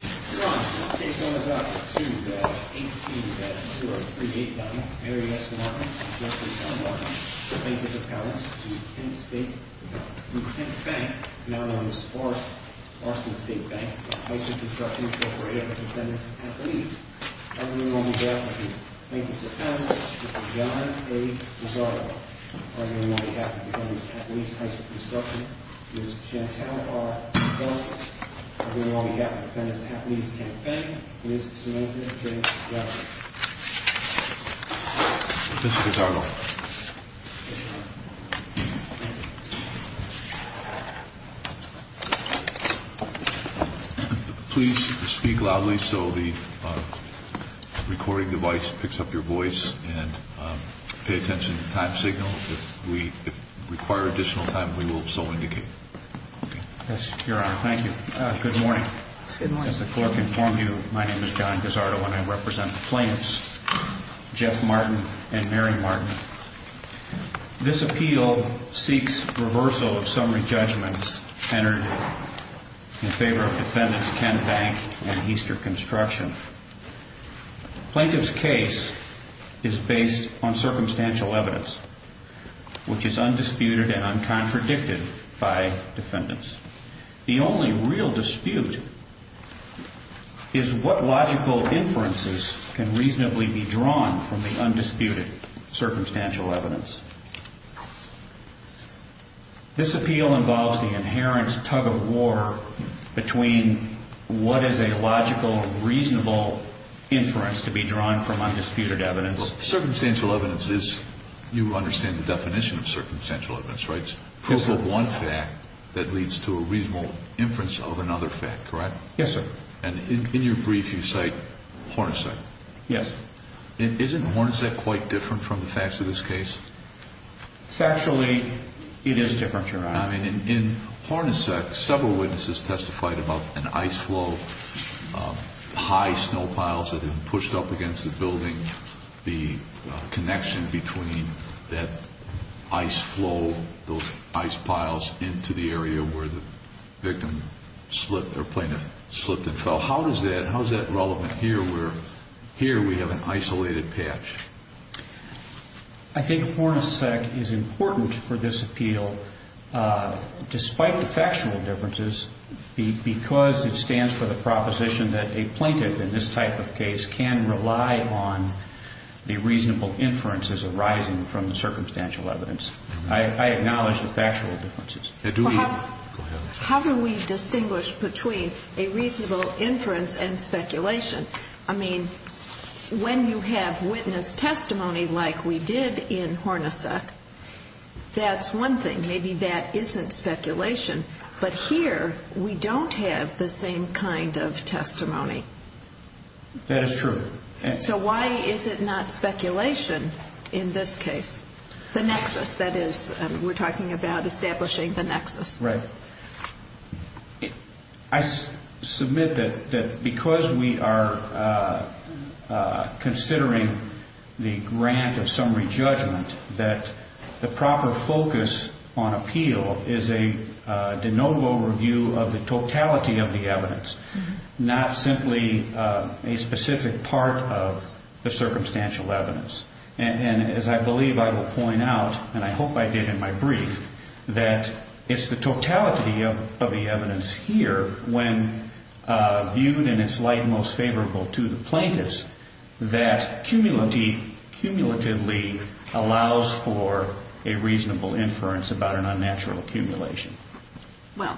Two badgers. Eight two badgers. Good, three eight batters. Mary S. Nepomuk, north of Tom Marks. Thank you very much. From Kent State Bank, now-known as Forrest, Forest and State Bank is a construction co-operator of dependents and attlives. Arthur and Long Beth have two plaintiffs-appounts. This is John A. DeSignore. Arthur and Long Beth are dependants and athlives at Heisler Construction. This is Chantal R. Chchestz Arthur and Long Beth are dependents and athletes at Kent Bank. This is Samantha J. Johnson. This is Ricardo. Please speak loudly so the recording device picks up your voice and pay attention to the time signal. If we require additional time, we will so indicate. Your Honor, thank you. Good morning. As the clerk informed you, my name is John Gazzardo and I represent the plaintiffs, Jeff Martin and Mary Martin. This appeal seeks reversal of summary judgments entered in favor of defendants Kent Bank and Heisler Construction. Plaintiff's case is based on circumstantial evidence, which is undisputed and uncontradicted by defendants. The only real dispute is what logical inferences can reasonably be drawn from the undisputed circumstantial evidence. This appeal involves the inherent tug-of-war between what is a logical and reasonable inference to be drawn from undisputed evidence. So circumstantial evidence is, you understand the definition of circumstantial evidence, right? It's proof of one fact that leads to a reasonable inference of another fact, correct? Yes, sir. And in your brief, you cite Hornacek. Yes. Isn't Hornacek quite different from the facts of this case? Factually, it is different, Your Honor. I mean, in Hornacek, several witnesses testified about an ice flow, high snow piles that had been pushed up against the building, the connection between that ice flow, those ice piles into the area where the victim slipped or plaintiff slipped and fell. How is that relevant here where here we have an isolated patch? I think Hornacek is important for this appeal, despite the factual differences, because it stands for the proposition that a plaintiff in this type of case can rely on the reasonable inferences arising from the circumstantial evidence. I acknowledge the factual differences. How do we distinguish between a reasonable inference and speculation? I mean, when you have witness testimony like we did in Hornacek, that's one thing. Maybe that isn't speculation. But here, we don't have the same kind of testimony. That is true. So why is it not speculation in this case? The nexus, that is. We're talking about establishing the nexus. Right. I submit that because we are considering the grant of summary judgment, that the proper focus on appeal is a de novo review of the totality of the evidence, not simply a specific part of the circumstantial evidence. And as I believe I will point out, and I hope I did in my brief, that it's the totality of the evidence here, when viewed in its light most favorable to the plaintiffs, that cumulatively allows for a reasonable inference about an unnatural accumulation. Well,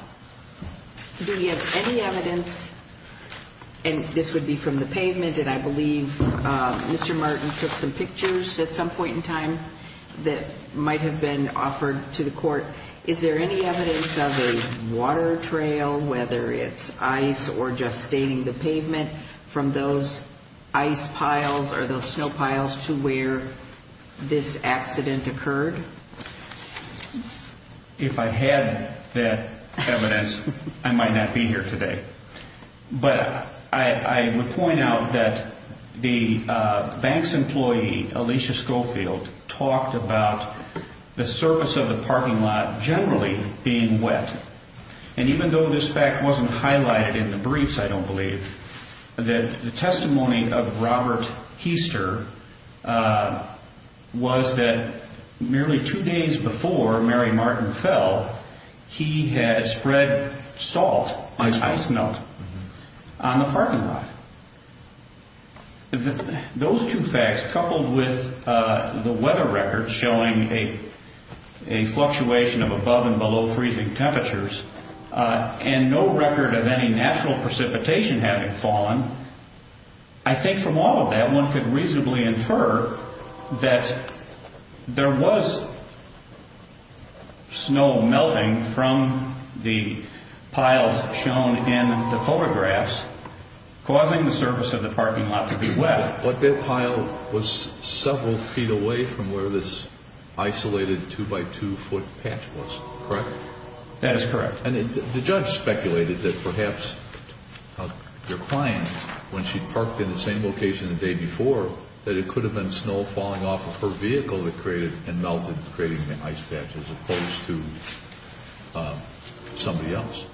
do we have any evidence, and this would be from the pavement, and I believe Mr. Martin took some pictures at some point in time that might have been offered to the court. Is there any evidence of a water trail, whether it's ice or just staining the pavement, from those ice piles or those snow piles to where this accident occurred? If I had that evidence, I might not be here today. But I would point out that the bank's employee, Alicia Schofield, talked about the surface of the parking lot generally being wet. And even though this fact wasn't highlighted in the briefs, I don't believe, that the testimony of Robert Heaster was that merely two days before Mary Martin fell, he had spread salt and ice melt on the parking lot. Those two facts, coupled with the weather records showing a fluctuation of above and below freezing temperatures, and no record of any natural precipitation having fallen, I think from all of that one could reasonably infer that there was snow melting from the piles shown in the photographs, causing the surface of the parking lot to be wet. But that pile was several feet away from where this isolated two-by-two-foot patch was, correct? That is correct. And the judge speculated that perhaps your client, when she parked in the same location the day before, that it could have been snow falling off of her vehicle that created and melted, creating an ice patch, as opposed to somebody else.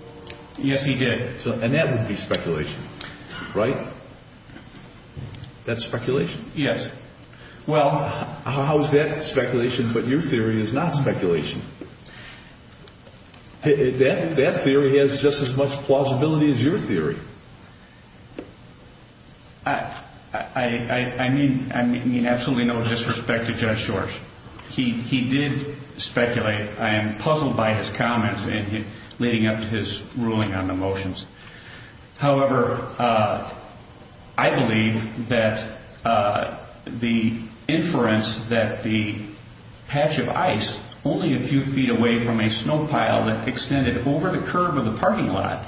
Yes, he did. And that would be speculation, right? That's speculation? Yes. Well, how is that speculation, but your theory is not speculation? That theory has just as much plausibility as your theory. I mean absolutely no disrespect to Jeff Shores. He did speculate. I am puzzled by his comments leading up to his ruling on the motions. However, I believe that the inference that the patch of ice only a few feet away from a snow pile that extended over the curb of the parking lot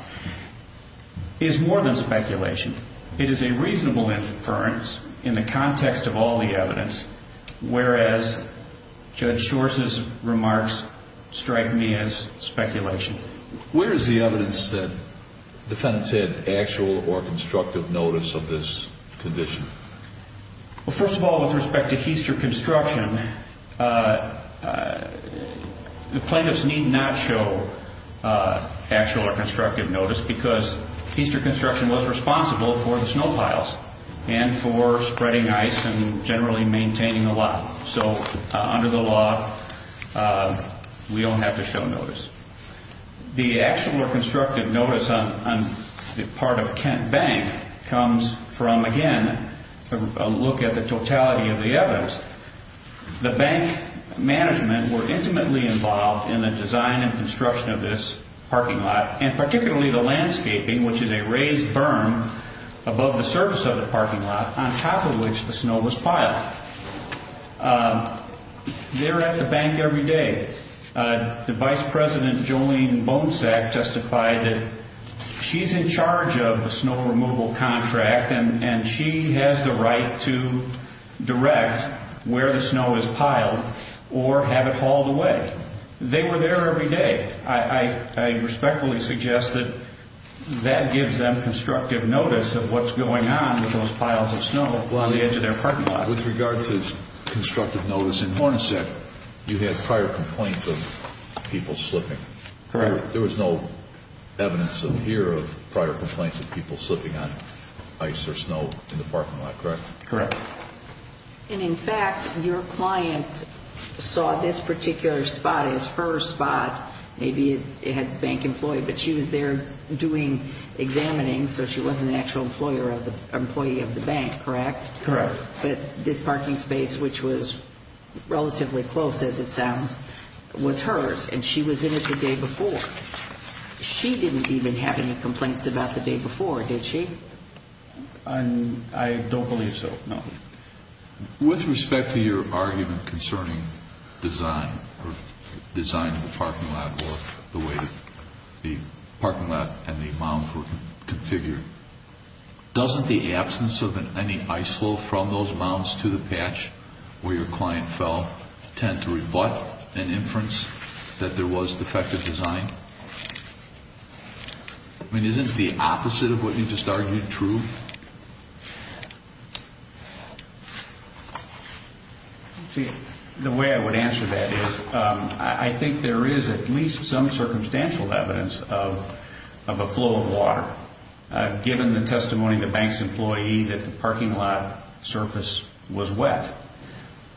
is more than speculation. It is a reasonable inference in the context of all the evidence, whereas Judge Shores' remarks strike me as speculation. Where is the evidence that defendants had actual or constructive notice of this condition? Well, first of all, with respect to heister construction, the plaintiffs need not show actual or constructive notice because heister construction was responsible for the snow piles and for spreading ice and generally maintaining the lot. So under the law, we don't have to show notice. The actual or constructive notice on the part of Kent Bank comes from, again, a look at the totality of the evidence. The bank management were intimately involved in the design and construction of this parking lot and particularly the landscaping, which is a raised berm above the surface of the parking lot on top of which the snow was piled. They're at the bank every day. The vice president, Jolene Bonsack, justified that she's in charge of the snow removal contract and she has the right to direct where the snow is piled or have it hauled away. They were there every day. I respectfully suggest that that gives them constructive notice of what's going on with those piles of snow along the edge of their parking lot. With regard to constructive notice in Hornacek, you had prior complaints of people slipping. Correct. There was no evidence in here of prior complaints of people slipping on ice or snow in the parking lot, correct? Correct. In fact, your client saw this particular spot as her spot. Maybe it had bank employees, but she was there doing examining, so she wasn't an actual employee of the bank, correct? Correct. But this parking space, which was relatively close as it sounds, was hers, and she was in it the day before. She didn't even have any complaints about the day before, did she? I don't believe so, no. With respect to your argument concerning design or design of the parking lot or the way the parking lot and the mounds were configured, doesn't the absence of any ISO from those mounds to the patch where your client fell tend to rebut an inference that there was defective design? I mean, isn't the opposite of what you just argued true? The way I would answer that is I think there is at least some circumstantial evidence of a flow of water. Given the testimony of the bank's employee that the parking lot surface was wet,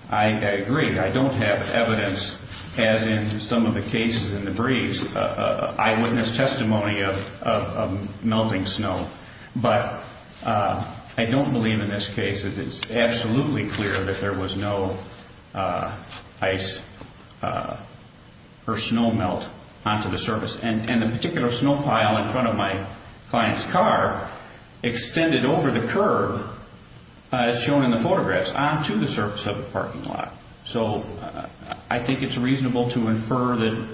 I agree. I don't have evidence, as in some of the cases in the briefs, eyewitness testimony of melting snow. But I don't believe in this case that it's absolutely clear that there was no ice or snow melt onto the surface. And the particular snow pile in front of my client's car extended over the curve as shown in the photographs onto the surface of the parking lot. So I think it's reasonable to infer that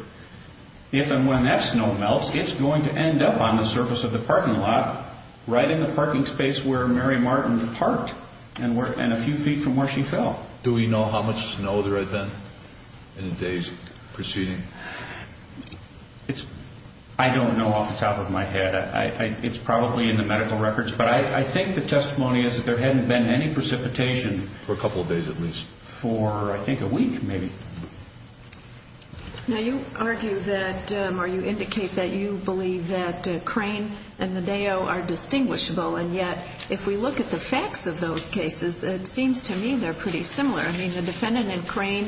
if and when that snow melts, it's going to end up on the surface of the parking lot right in the parking space where Mary Martin parked and a few feet from where she fell. Do we know how much snow there had been in the days preceding? I don't know off the top of my head. It's probably in the medical records. But I think the testimony is that there hadn't been any precipitation for a couple of days at least, for I think a week maybe. Now, you argue that, or you indicate that you believe that Crane and Medeo are distinguishable, and yet if we look at the facts of those cases, it seems to me they're pretty similar. I mean, the defendant in Crane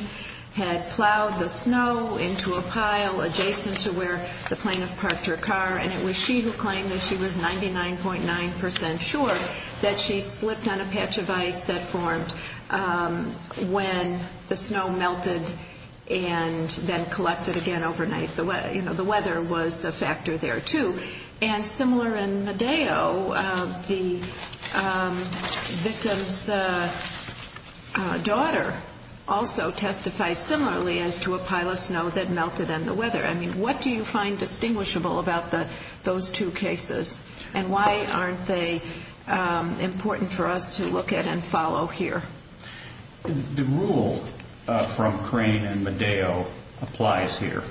had plowed the snow into a pile adjacent to where the plaintiff parked her car, and it was she who claimed that she was 99.9% sure that she slipped on a patch of ice that formed when the snow melted and then collected again overnight. You know, the weather was a factor there too. And similar in Medeo, the victim's daughter also testified similarly as to a pile of snow that melted in the weather. I mean, what do you find distinguishable about those two cases, and why aren't they important for us to look at and follow here? The rule from Crane and Medeo applies here.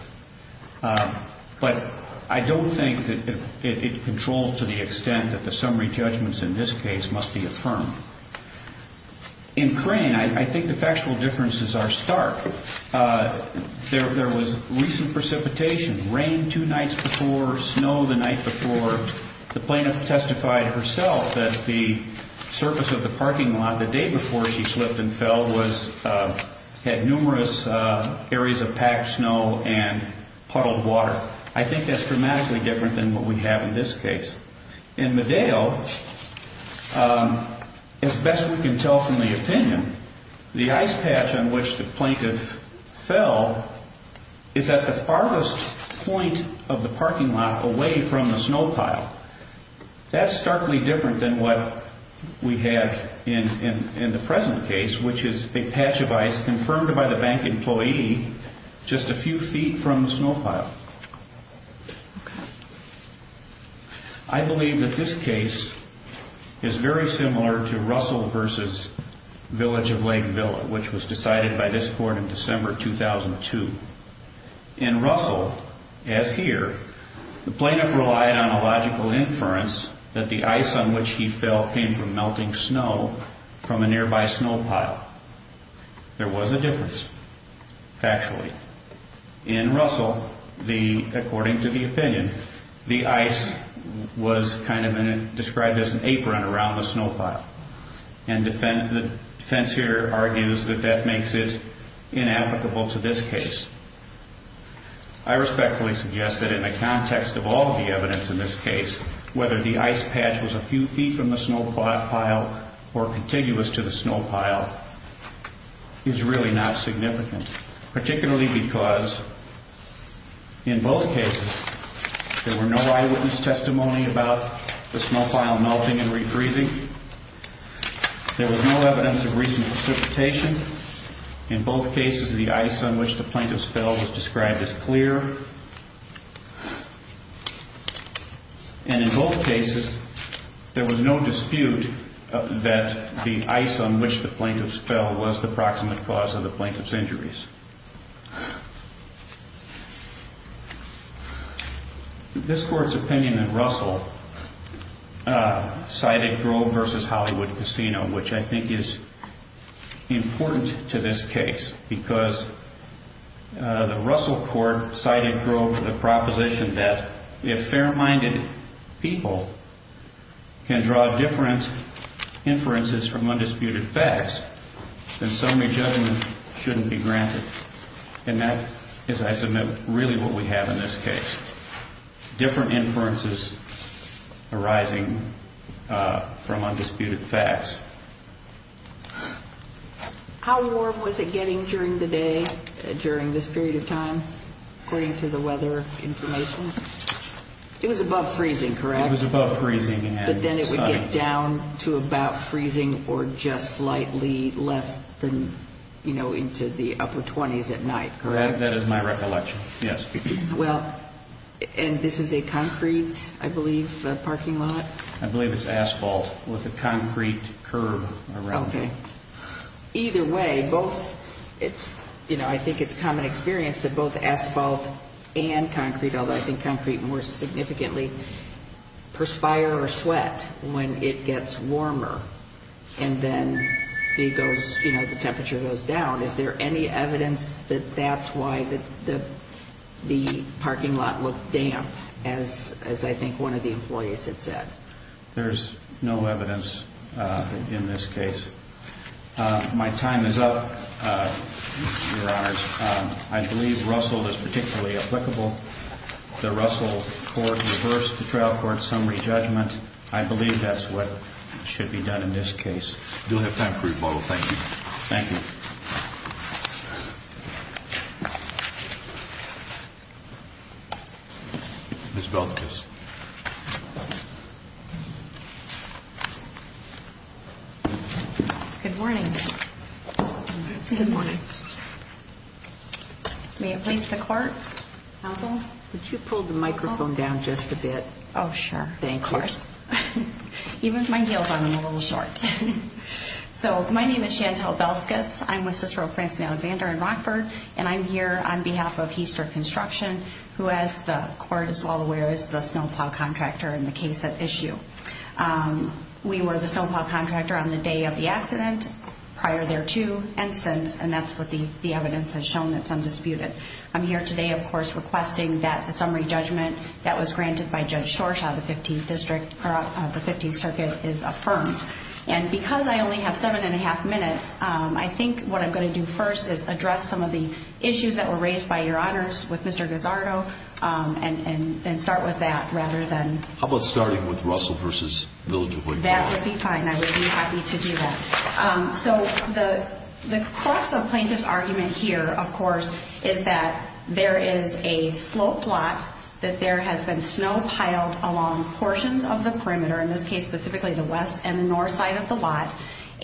But I don't think that it controls to the extent that the summary judgments in this case must be affirmed. In Crane, I think the factual differences are stark. There was recent precipitation, rain two nights before, snow the night before. The plaintiff testified herself that the surface of the parking lot the day before she slipped and fell had numerous areas of packed snow and puddled water. I think that's dramatically different than what we have in this case. In Medeo, as best we can tell from the opinion, the ice patch on which the plaintiff fell is at the farthest point of the parking lot away from the snow pile. That's starkly different than what we have in the present case, which is a patch of ice confirmed by the bank employee just a few feet from the snow pile. I believe that this case is very similar to Russell v. Village of Lake Villa, which was decided by this court in December 2002. In Russell, as here, the plaintiff relied on a logical inference that the ice on which he fell came from melting snow from a nearby snow pile. There was a difference, factually. In Russell, according to the opinion, the ice was kind of described as an apron around the snow pile, and the defense here argues that that makes it inapplicable to this case. I respectfully suggest that in the context of all the evidence in this case, whether the ice patch was a few feet from the snow pile or contiguous to the snow pile is really not significant, particularly because in both cases there were no eyewitness testimony about the snow pile melting and re-freezing. There was no evidence of recent precipitation. In both cases, the ice on which the plaintiff fell was described as clear. And in both cases, there was no dispute that the ice on which the plaintiff fell was the proximate cause of the plaintiff's injuries. This court's opinion in Russell cited Grove v. Hollywood Casino, which I think is important to this case, because the Russell court cited Grove for the proposition that if fair-minded people can draw different inferences from undisputed facts, then summary judgment shouldn't be granted. And that is, I submit, really what we have in this case, different inferences arising from undisputed facts. How warm was it getting during the day during this period of time, according to the weather information? It was above freezing, correct? It was above freezing and sunny. But then it would get down to about freezing or just slightly less than, you know, into the upper 20s at night, correct? That is my recollection, yes. Well, and this is a concrete, I believe, parking lot? I believe it's asphalt with a concrete curb around it. Okay. Either way, both, it's, you know, I think it's common experience that both asphalt and concrete, although I think concrete more significantly, perspire or sweat when it gets warmer, and then it goes, you know, the temperature goes down. Is there any evidence that that's why the parking lot looked damp, as I think one of the employees had said? There's no evidence in this case. My time is up, Your Honors. I believe Russell is particularly applicable. The Russell court reversed the trial court summary judgment. I believe that's what should be done in this case. We do have time for rebuttal. Thank you. Thank you. Ms. Velazquez. Good morning. Good morning. May I please have the court? Counsel? Could you pull the microphone down just a bit? Oh, sure. Thank you. Of course. Even with my heels on, I'm a little short. So, my name is Chantel Velazquez. I'm with Cicero, Prince, and Alexander in Rockford, and I'm here on behalf of Heaster Construction, who, as the court is well aware, is the snowplow contractor in the case at issue. We were the snowplow contractor on the day of the accident, prior thereto, and since, and that's what the evidence has shown. It's undisputed. I'm here today, of course, requesting that the summary judgment that was granted by Judge Shorshaw of the 15th District, or of the 15th Circuit, is affirmed. And because I only have seven and a half minutes, I think what I'm going to do first is address some of the issues that were raised by Your Honors with Mr. Gazzardo, and start with that rather than... How about starting with Russell v. Village of Williamson? That would be fine. I would be happy to do that. So, the crux of plaintiff's argument here, of course, is that there is a sloped lot, that there has been snow piled along portions of the perimeter, in this case, specifically the west and the north side of the lot,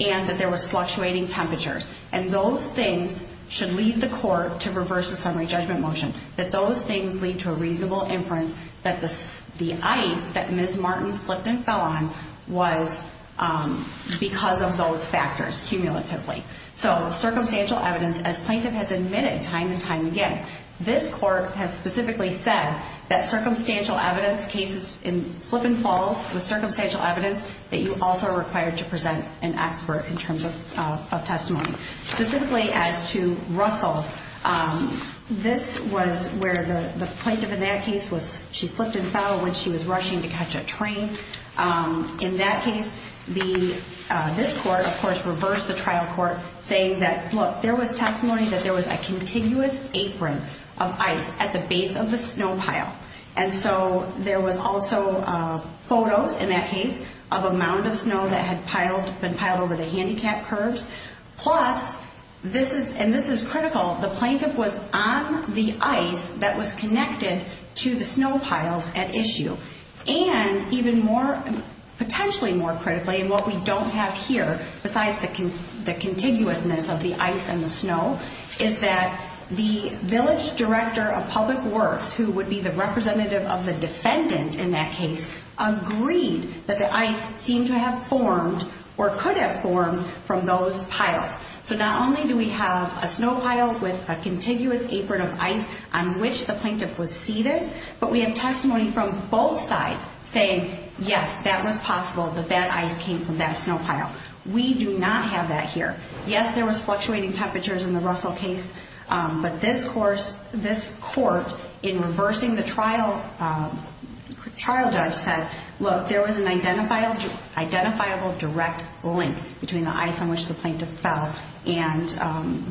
and that there was fluctuating temperatures. And those things should lead the court to reverse the summary judgment motion, that those things lead to a reasonable inference that the ice that Ms. Martin slipped and fell on was because of those factors, cumulatively. So, circumstantial evidence, as plaintiff has admitted time and time again, this court has specifically said that circumstantial evidence, cases in slip and falls with circumstantial evidence, that you also are required to present an expert in terms of testimony. Specifically, as to Russell, this was where the plaintiff in that case was... In that case, this court, of course, reversed the trial court, saying that, look, there was testimony that there was a contiguous apron of ice at the base of the snow pile. And so, there was also photos, in that case, of a mound of snow that had been piled over the handicapped curbs. Plus, and this is critical, the plaintiff was on the ice that was connected to the snow pile, and even more, potentially more critically, and what we don't have here, besides the contiguousness of the ice and the snow, is that the village director of public works, who would be the representative of the defendant in that case, agreed that the ice seemed to have formed or could have formed from those piles. So, not only do we have a snow pile with a contiguous apron of ice on which the plaintiff was seated, but we have testimony from both sides saying, yes, that was possible that that ice came from that snow pile. We do not have that here. Yes, there was fluctuating temperatures in the Russell case, but this court, in reversing the trial, the trial judge said, look, there was an identifiable direct link between the ice on which the plaintiff fell and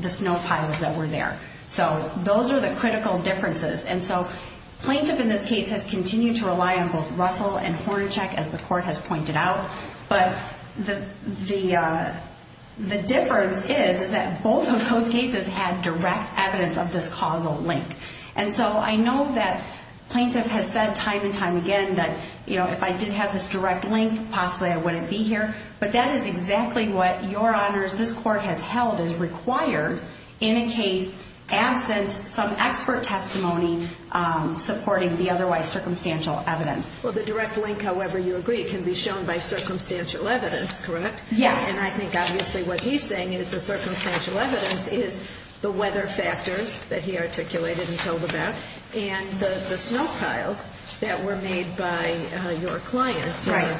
the snow piles that were there. So, those are the critical differences. And so, plaintiff in this case has continued to rely on both Russell and Hornachek, as the court has pointed out, but the difference is, is that both of those cases had direct evidence of this causal link. And so, I know that plaintiff has said time and time again that, you know, if I did have this direct link, possibly I wouldn't be here. But that is exactly what, Your Honors, this court has held is required in a case absent some expert testimony supporting the otherwise circumstantial evidence. Well, the direct link, however you agree, can be shown by circumstantial evidence, correct? Yes. And I think, obviously, what he's saying is the circumstantial evidence is the weather factors that he articulated and told about and the snow piles that were made by your client. Right.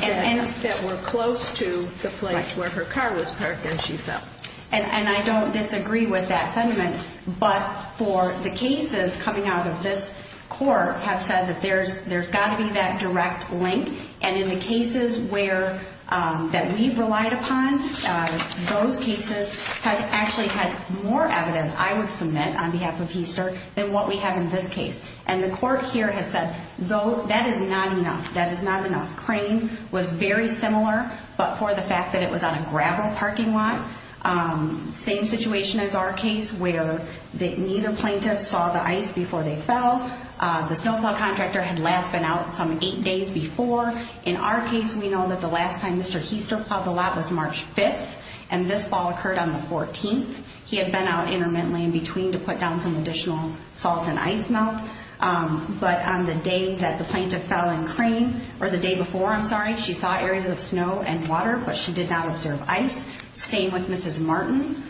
That were close to the place where her car was parked and she fell. And I don't disagree with that sentiment, but for the cases coming out of this court have said that there's got to be that direct link. And in the cases where, that we've relied upon, those cases have actually had more evidence I would submit on behalf of HESTER than what we have in this case. And the court here has said, though, that is not enough. That is not enough. Crane was very similar, but for the fact that it was on a gravel parking lot. Same situation as our case where neither plaintiff saw the ice before they fell. The snow pile contractor had last been out some eight days before. In our case, we know that the last time Mr. HESTER plowed the lot was March 5th. And this fall occurred on the 14th. He had been out intermittently in between to put down some additional salt and ice melt. But on the day that the plaintiff fell in Crane, or the day before, I'm sorry, she saw areas of snow and water, but she did not observe ice. Same with Mrs. Martin.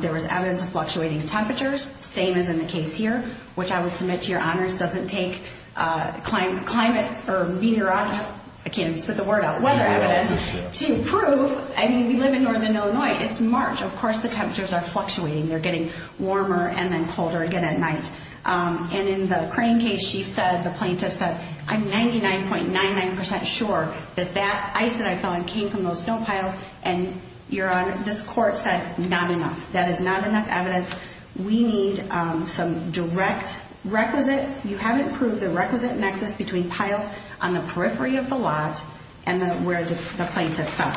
There was evidence of fluctuating temperatures. Same as in the case here, which I would submit to your honors doesn't take climate or meteorological, I can't even spit the word out, weather evidence to prove. I mean, we live in northern Illinois. It's March. Of course, the temperatures are fluctuating. They're getting warmer and then colder again at night. And in the Crane case, she said, the plaintiff said, I'm 99.99% sure that that ice that I fell in came from those snow piles. And your honor, this court said not enough. That is not enough evidence. We need some direct requisite. You haven't proved the requisite nexus between piles on the periphery of the lot and where the plaintiff fell.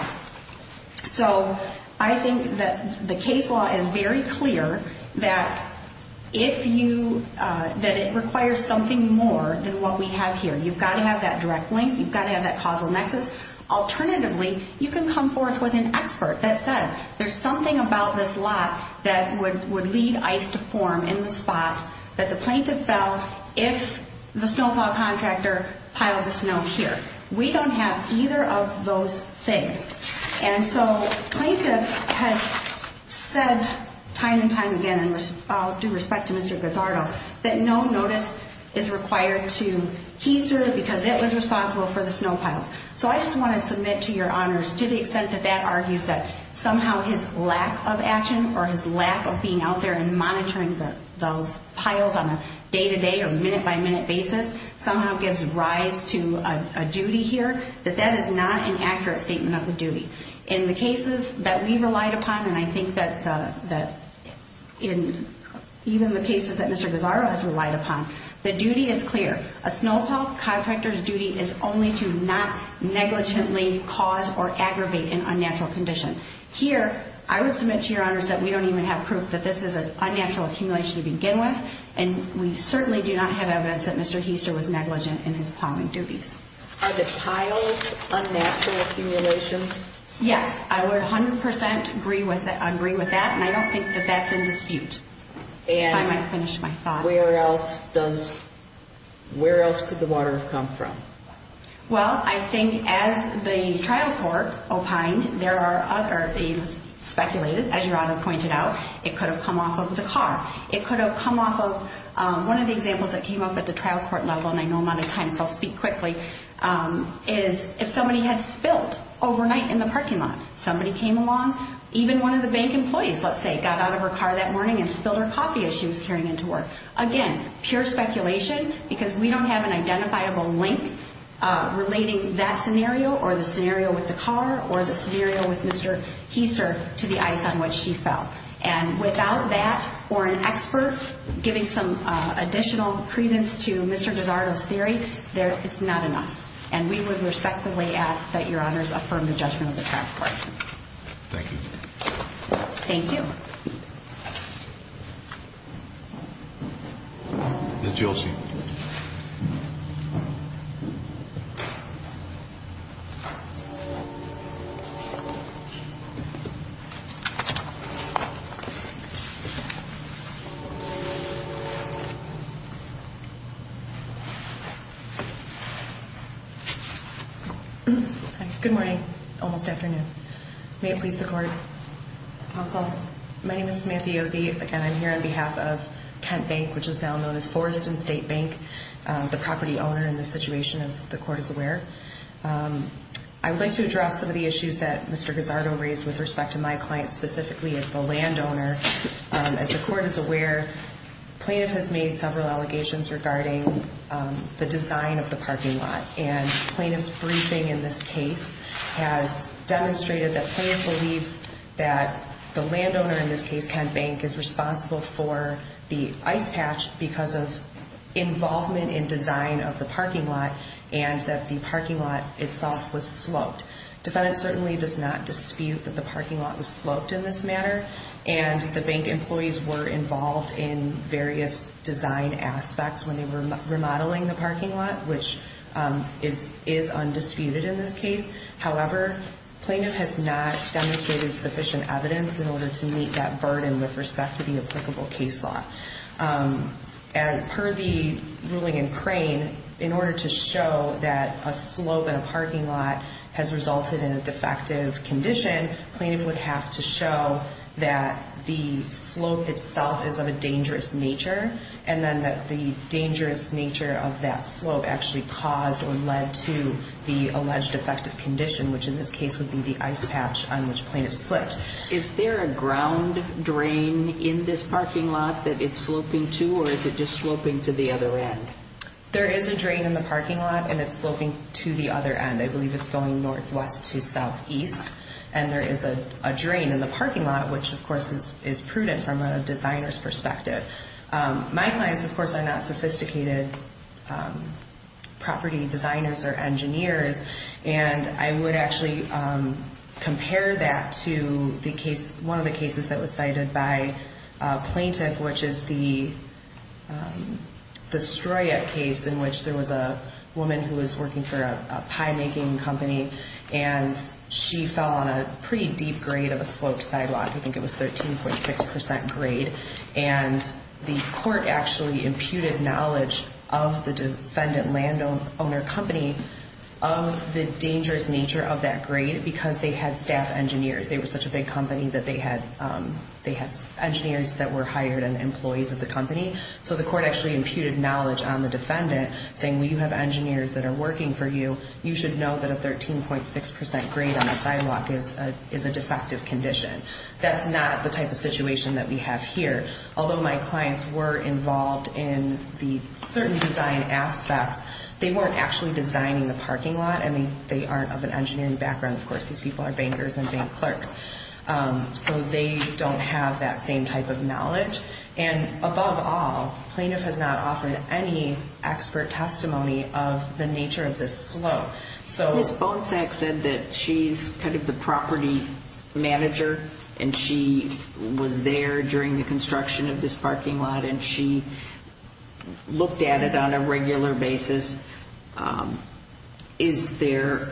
So I think that the case law is very clear that if you, that it requires something more than what we have here. You've got to have that direct link. You've got to have that causal nexus. Alternatively, you can come forth with an expert that says, there's something about this lot that would lead ice to form in the spot that the plaintiff fell if the snow pile contractor piled the snow here. We don't have either of those things. And so plaintiff has said time and time again, and I'll do respect to Mr. Gazzardo, that no notice is required to he's due because it was responsible for the snow piles. So I just want to submit to your honors, to the extent that that argues that somehow his lack of action or his lack of being out there and monitoring those piles on a day-to-day or minute-by-minute basis somehow gives rise to a duty here, that that is not an accurate statement of the duty. In the cases that we relied upon, and I think that even the cases that Mr. Gazzardo has relied upon, the duty is clear. A snow pile contractor's duty is only to not negligently cause or aggravate an unnatural condition. Here, I would submit to your honors that we don't even have proof that this is an unnatural accumulation to begin with, and we certainly do not have evidence that Mr. Heaster was negligent in his plumbing duties. Are the piles unnatural accumulations? Yes, I would 100% agree with that, and I don't think that that's in dispute, if I might finish my thought. Where else could the water have come from? Well, I think as the trial court opined, there are other things speculated. As your honor pointed out, it could have come off of the car. It could have come off of one of the examples that came up at the trial court level, and I know I'm out of time, so I'll speak quickly, is if somebody had spilled overnight in the parking lot. Somebody came along, even one of the bank employees, let's say, got out of her car that morning and spilled her coffee as she was carrying into work. Again, pure speculation because we don't have an identifiable link relating that scenario or the scenario with the car or the scenario with Mr. Heaster to the ice on which she fell. And without that or an expert giving some additional credence to Mr. Gisardo's theory, it's not enough. And we would respectfully ask that your honors affirm the judgment of the trial court. Thank you. Thank you. Ms. Jolci. Thank you. Good morning. Almost afternoon. May it please the court. Counsel. My name is Samantha Yosey, and I'm here on behalf of Kent Bank, which is now known as Forreston State Bank, the property owner in this situation, as the court is aware. I would like to address some of the issues that Mr. Gisardo raised with respect to my client, specifically as the landowner. As the court is aware, plaintiff has made several allegations regarding the design of the parking lot. And plaintiff's briefing in this case has demonstrated that plaintiff believes that the landowner, in this case Kent Bank, is responsible for the ice patch because of involvement in design of the parking lot and that the parking lot itself was sloped. Defendant certainly does not dispute that the parking lot was sloped in this manner, and the bank employees were involved in various design aspects when they were remodeling the parking lot, which is undisputed in this case. However, plaintiff has not demonstrated sufficient evidence in order to meet that burden with respect to the applicable case law. And per the ruling in Crane, in order to show that a slope in a parking lot has resulted in a defective condition, plaintiff would have to show that the slope itself is of a dangerous nature and then that the dangerous nature of that slope actually caused or led to the alleged defective condition, which in this case would be the ice patch on which plaintiff slipped. Is there a ground drain in this parking lot that it's sloping to, or is it just sloping to the other end? There is a drain in the parking lot, and it's sloping to the other end. I believe it's going northwest to southeast, and there is a drain in the parking lot, which, of course, is prudent from a designer's perspective. My clients, of course, are not sophisticated property designers or engineers, and I would actually compare that to one of the cases that was cited by a plaintiff, which is the Stroyette case in which there was a woman who was working for a pie-making company, and she fell on a pretty deep grade of a sloped sidewalk. I think it was 13.6 percent grade, and the court actually imputed knowledge of the defendant landowner company of the dangerous nature of that grade because they had staff engineers. They were such a big company that they had engineers that were hired and employees of the company, so the court actually imputed knowledge on the defendant, saying, Well, you have engineers that are working for you. You should know that a 13.6 percent grade on the sidewalk is a defective condition. That's not the type of situation that we have here. Although my clients were involved in the certain design aspects, they weren't actually designing the parking lot, and they aren't of an engineering background. Of course, these people are bankers and bank clerks, so they don't have that same type of knowledge. And above all, plaintiff has not offered any expert testimony of the nature of this slope. Ms. Bonsack said that she's kind of the property manager, and she was there during the construction of this parking lot, and she looked at it on a regular basis. Is there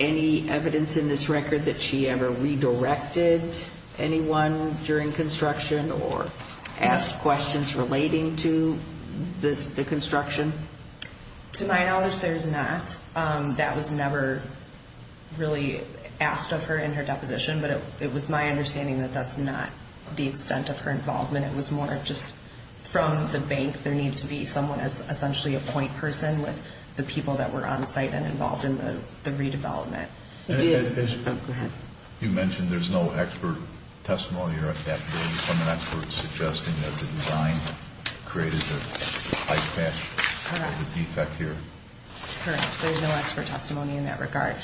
any evidence in this record that she ever redirected anyone during construction or asked questions relating to the construction? To my knowledge, there's not. That was never really asked of her in her deposition, but it was my understanding that that's not the extent of her involvement. It was more just from the bank. There needed to be someone as essentially a point person with the people that were on site and involved in the redevelopment. You mentioned there's no expert testimony or adaptability from an expert, suggesting that the design created the high patch or the defect here. Correct. There's no expert testimony in that regard.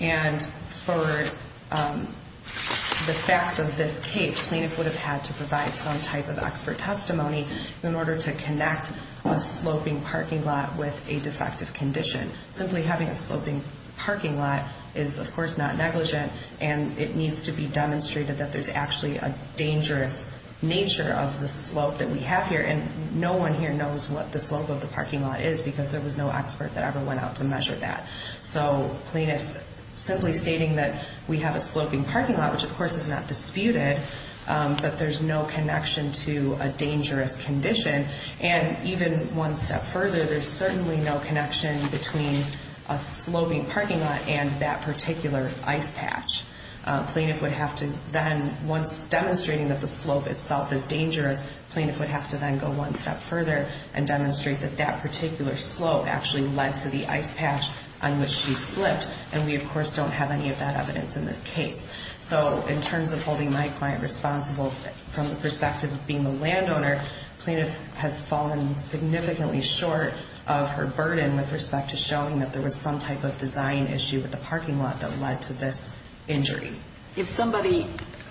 And for the facts of this case, plaintiff would have had to provide some type of expert testimony in order to connect a sloping parking lot with a defective condition. Simply having a sloping parking lot is, of course, not negligent, and it needs to be demonstrated that there's actually a dangerous nature of the slope that we have here, and no one here knows what the slope of the parking lot is because there was no expert that ever went out to measure that. So plaintiff simply stating that we have a sloping parking lot, which, of course, is not disputed, but there's no connection to a dangerous condition. And even one step further, there's certainly no connection between a sloping parking lot and that particular ice patch. Plaintiff would have to then, once demonstrating that the slope itself is dangerous, plaintiff would have to then go one step further and demonstrate that that particular slope actually led to the ice patch on which she slipped, and we, of course, don't have any of that evidence in this case. So in terms of holding my client responsible from the perspective of being the landowner, plaintiff has fallen significantly short of her burden with respect to showing that there was some type of design issue with the parking lot that led to this injury. If somebody,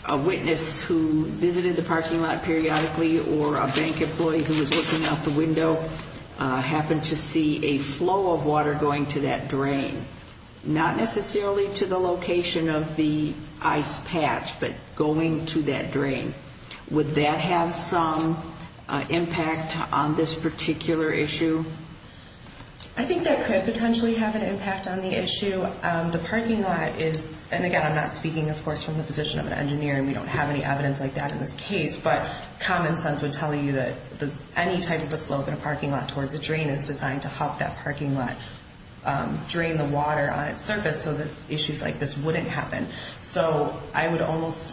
a witness who visited the parking lot periodically, or a bank employee who was looking out the window happened to see a flow of water going to that drain, not necessarily to the location of the ice patch, but going to that drain, would that have some impact on this particular issue? I think that could potentially have an impact on the issue. The parking lot is, and again, I'm not speaking, of course, from the position of an engineer, and we don't have any evidence like that in this case, but common sense would tell you that any type of a slope in a parking lot towards a drain is designed to help that parking lot drain the water on its surface so that issues like this wouldn't happen. So I would argue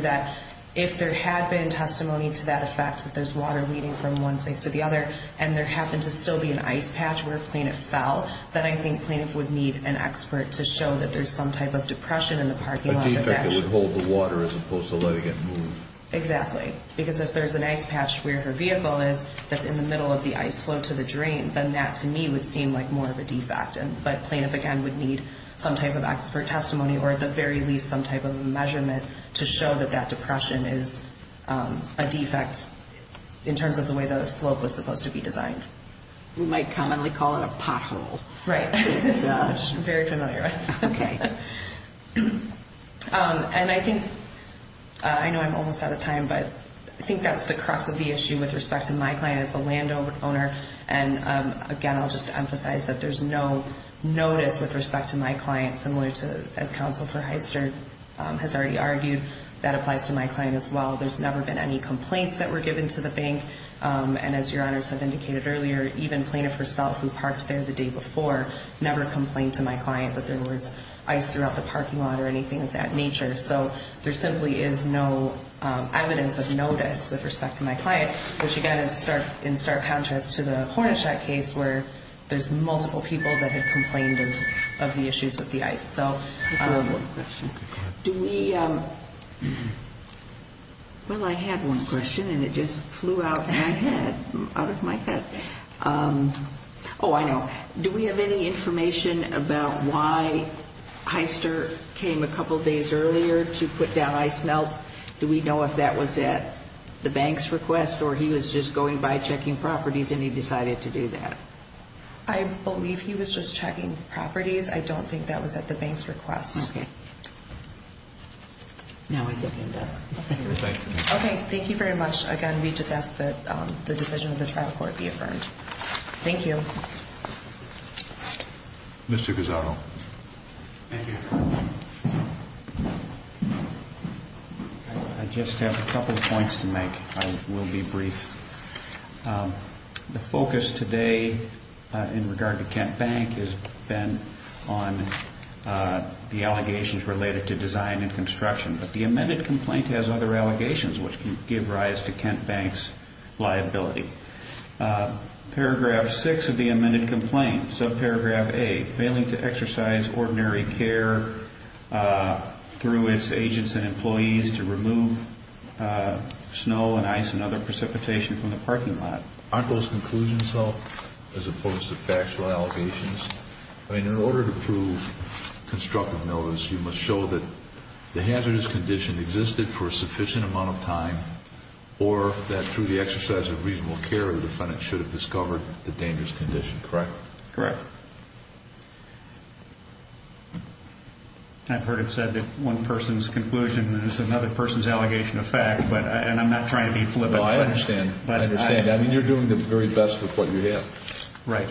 that if there had been testimony to that effect, that there's water leading from one place to the other, and there happened to still be an ice patch where plaintiff fell, then I think plaintiff would need an expert to show that there's some type of depression in the parking lot. A defect that would hold the water as opposed to letting it move. Exactly. Because if there's an ice patch where her vehicle is that's in the middle of the ice flow to the drain, then that, to me, would seem like more of a defect. But plaintiff, again, would need some type of expert testimony or at the very least some type of measurement to show that that depression is a defect in terms of the way the slope was supposed to be designed. We might commonly call it a pothole. Right. Which I'm very familiar with. Okay. And I think, I know I'm almost out of time, but I think that's the crux of the issue with respect to my client as the landowner. And, again, I'll just emphasize that there's no notice with respect to my client, similar to as Counsel for Hyster has already argued, that applies to my client as well. There's never been any complaints that were given to the bank. And as Your Honors have indicated earlier, even plaintiff herself who parked there the day before never complained to my client that there was ice throughout the parking lot or anything of that nature. So there simply is no evidence of notice with respect to my client, which again is in stark contrast to the Hornishat case where there's multiple people that had complained of the issues with the ice. I have one question. Go ahead. Well, I had one question, and it just flew out of my head. Oh, I know. Do we have any information about why Hyster came a couple days earlier to put down ice melt? Do we know if that was at the bank's request or he was just going by checking properties and he decided to do that? I believe he was just checking properties. I don't think that was at the bank's request. Okay. Now I think I know. Okay, thank you very much. Again, we just ask that the decision of the trial court be affirmed. Thank you. Mr. Guzzardo. Thank you. I just have a couple points to make. I will be brief. The focus today in regard to Kent Bank has been on the allegations related to design and construction, but the amended complaint has other allegations which can give rise to Kent Bank's liability. Paragraph 6 of the amended complaint, subparagraph 8, failing to exercise ordinary care through its agents and employees to remove snow and ice and other precipitation from the parking lot. Aren't those conclusions, though, as opposed to factual allegations? I mean, in order to prove constructive notice, you must show that the hazardous condition existed for a sufficient amount of time or that through the exercise of reasonable care, the defendant should have discovered the dangerous condition, correct? Correct. I've heard it said that one person's conclusion is another person's allegation of fact, and I'm not trying to be flippant. I understand. I mean, you're doing the very best with what you have. Right.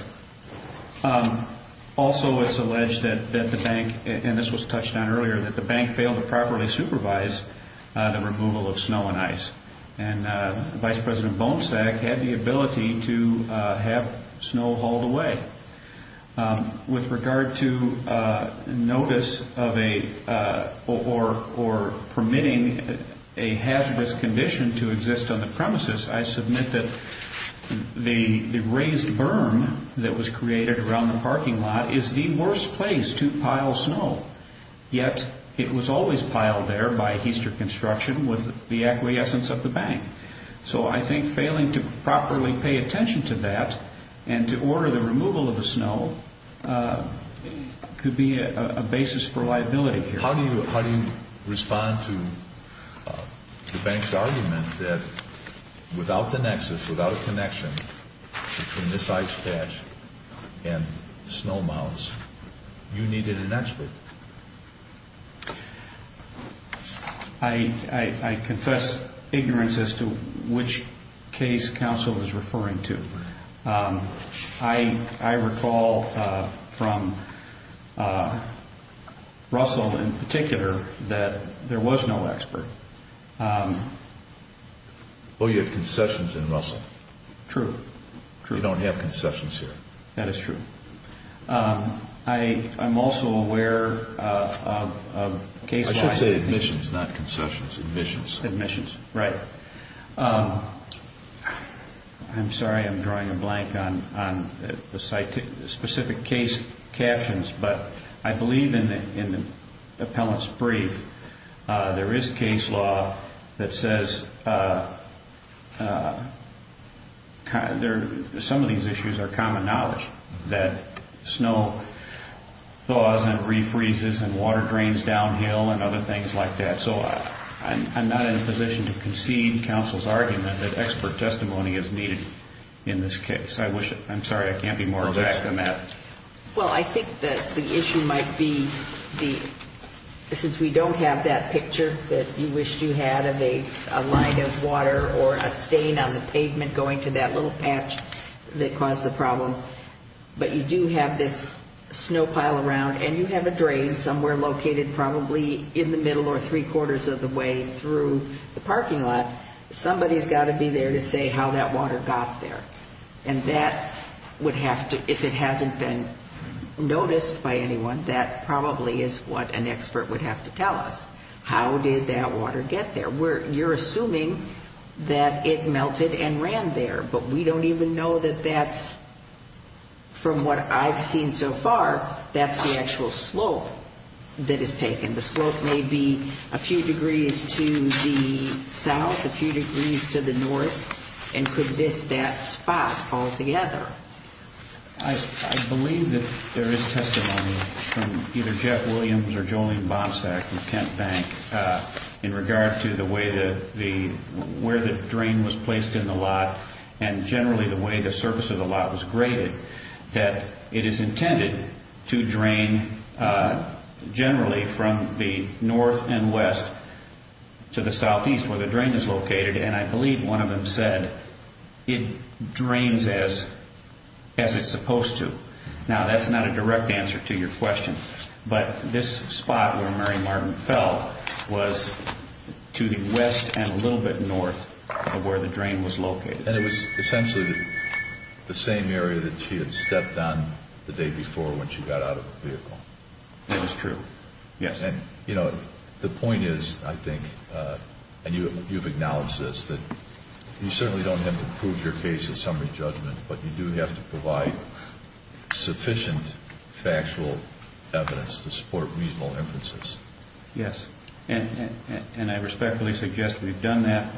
Also, it's alleged that the bank, and this was touched on earlier, that the bank failed to properly supervise the removal of snow and ice, and Vice President Bonsack had the ability to have snow hauled away. With regard to notice of a or permitting a hazardous condition to exist on the premises, I submit that the raised berm that was created around the parking lot is the worst place to pile snow, yet it was always piled there by heister construction with the acquiescence of the bank. So I think failing to properly pay attention to that and to order the removal of the snow could be a basis for liability here. How do you respond to the bank's argument that without the nexus, without a connection between this ice patch and snow mounds, you needed an expert? I confess ignorance as to which case counsel is referring to. I recall from Russell in particular that there was no expert. Oh, you have concessions in Russell. True. You don't have concessions here. That is true. I'm also aware of case-wise- I should say admissions, not concessions. Admissions. Admissions, right. I'm sorry I'm drawing a blank on the specific case captions, but I believe in the appellant's brief there is case law that says some of these issues are common knowledge, that snow thaws and refreezes and water drains downhill and other things like that. So I'm not in a position to concede counsel's argument that expert testimony is needed in this case. I'm sorry, I can't be more exact than that. Well, I think that the issue might be since we don't have that picture that you wished you had of a line of water or a stain on the pavement going to that little patch that caused the problem, but you do have this snow pile around, and you have a drain somewhere located probably in the middle or three-quarters of the way through the parking lot, somebody's got to be there to say how that water got there. And that would have to, if it hasn't been noticed by anyone, that probably is what an expert would have to tell us. How did that water get there? You're assuming that it melted and ran there, but we don't even know that that's, from what I've seen so far, that's the actual slope that is taken. The slope may be a few degrees to the south, a few degrees to the north, and could this, that spot, fall together. I believe that there is testimony from either Jeff Williams or Jolene Bomsack and Kent Bank in regard to the way that the, where the drain was placed in the lot and generally the way the surface of the lot was graded, that it is intended to drain generally from the north and west to the southeast where the drain is located, and I believe one of them said it drains as it's supposed to. Now, that's not a direct answer to your question, but this spot where Mary Martin fell was to the west and a little bit north of where the drain was located. And it was essentially the same area that she had stepped on the day before when she got out of the vehicle. It was true, yes. And, you know, the point is, I think, and you've acknowledged this, that you certainly don't have to prove your case in summary judgment, but you do have to provide sufficient factual evidence to support reasonable inferences. Yes, and I respectfully suggest we've done that.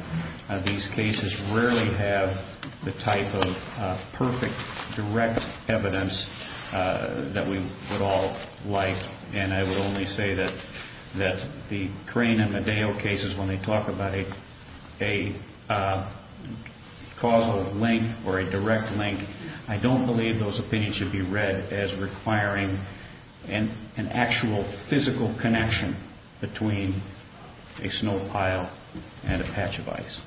These cases rarely have the type of perfect direct evidence that we would all like, and I would only say that the Crane and Medeo cases, when they talk about a causal link or a direct link, I don't believe those opinions should be read as requiring an actual physical connection between a snow pile and a patch of ice.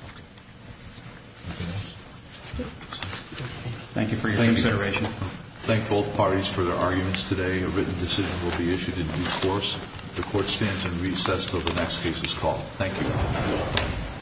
Thank you for your consideration. Thank both parties for their arguments today. A written decision will be issued in due course. The Court stands in recess until the next case is called. Thank you.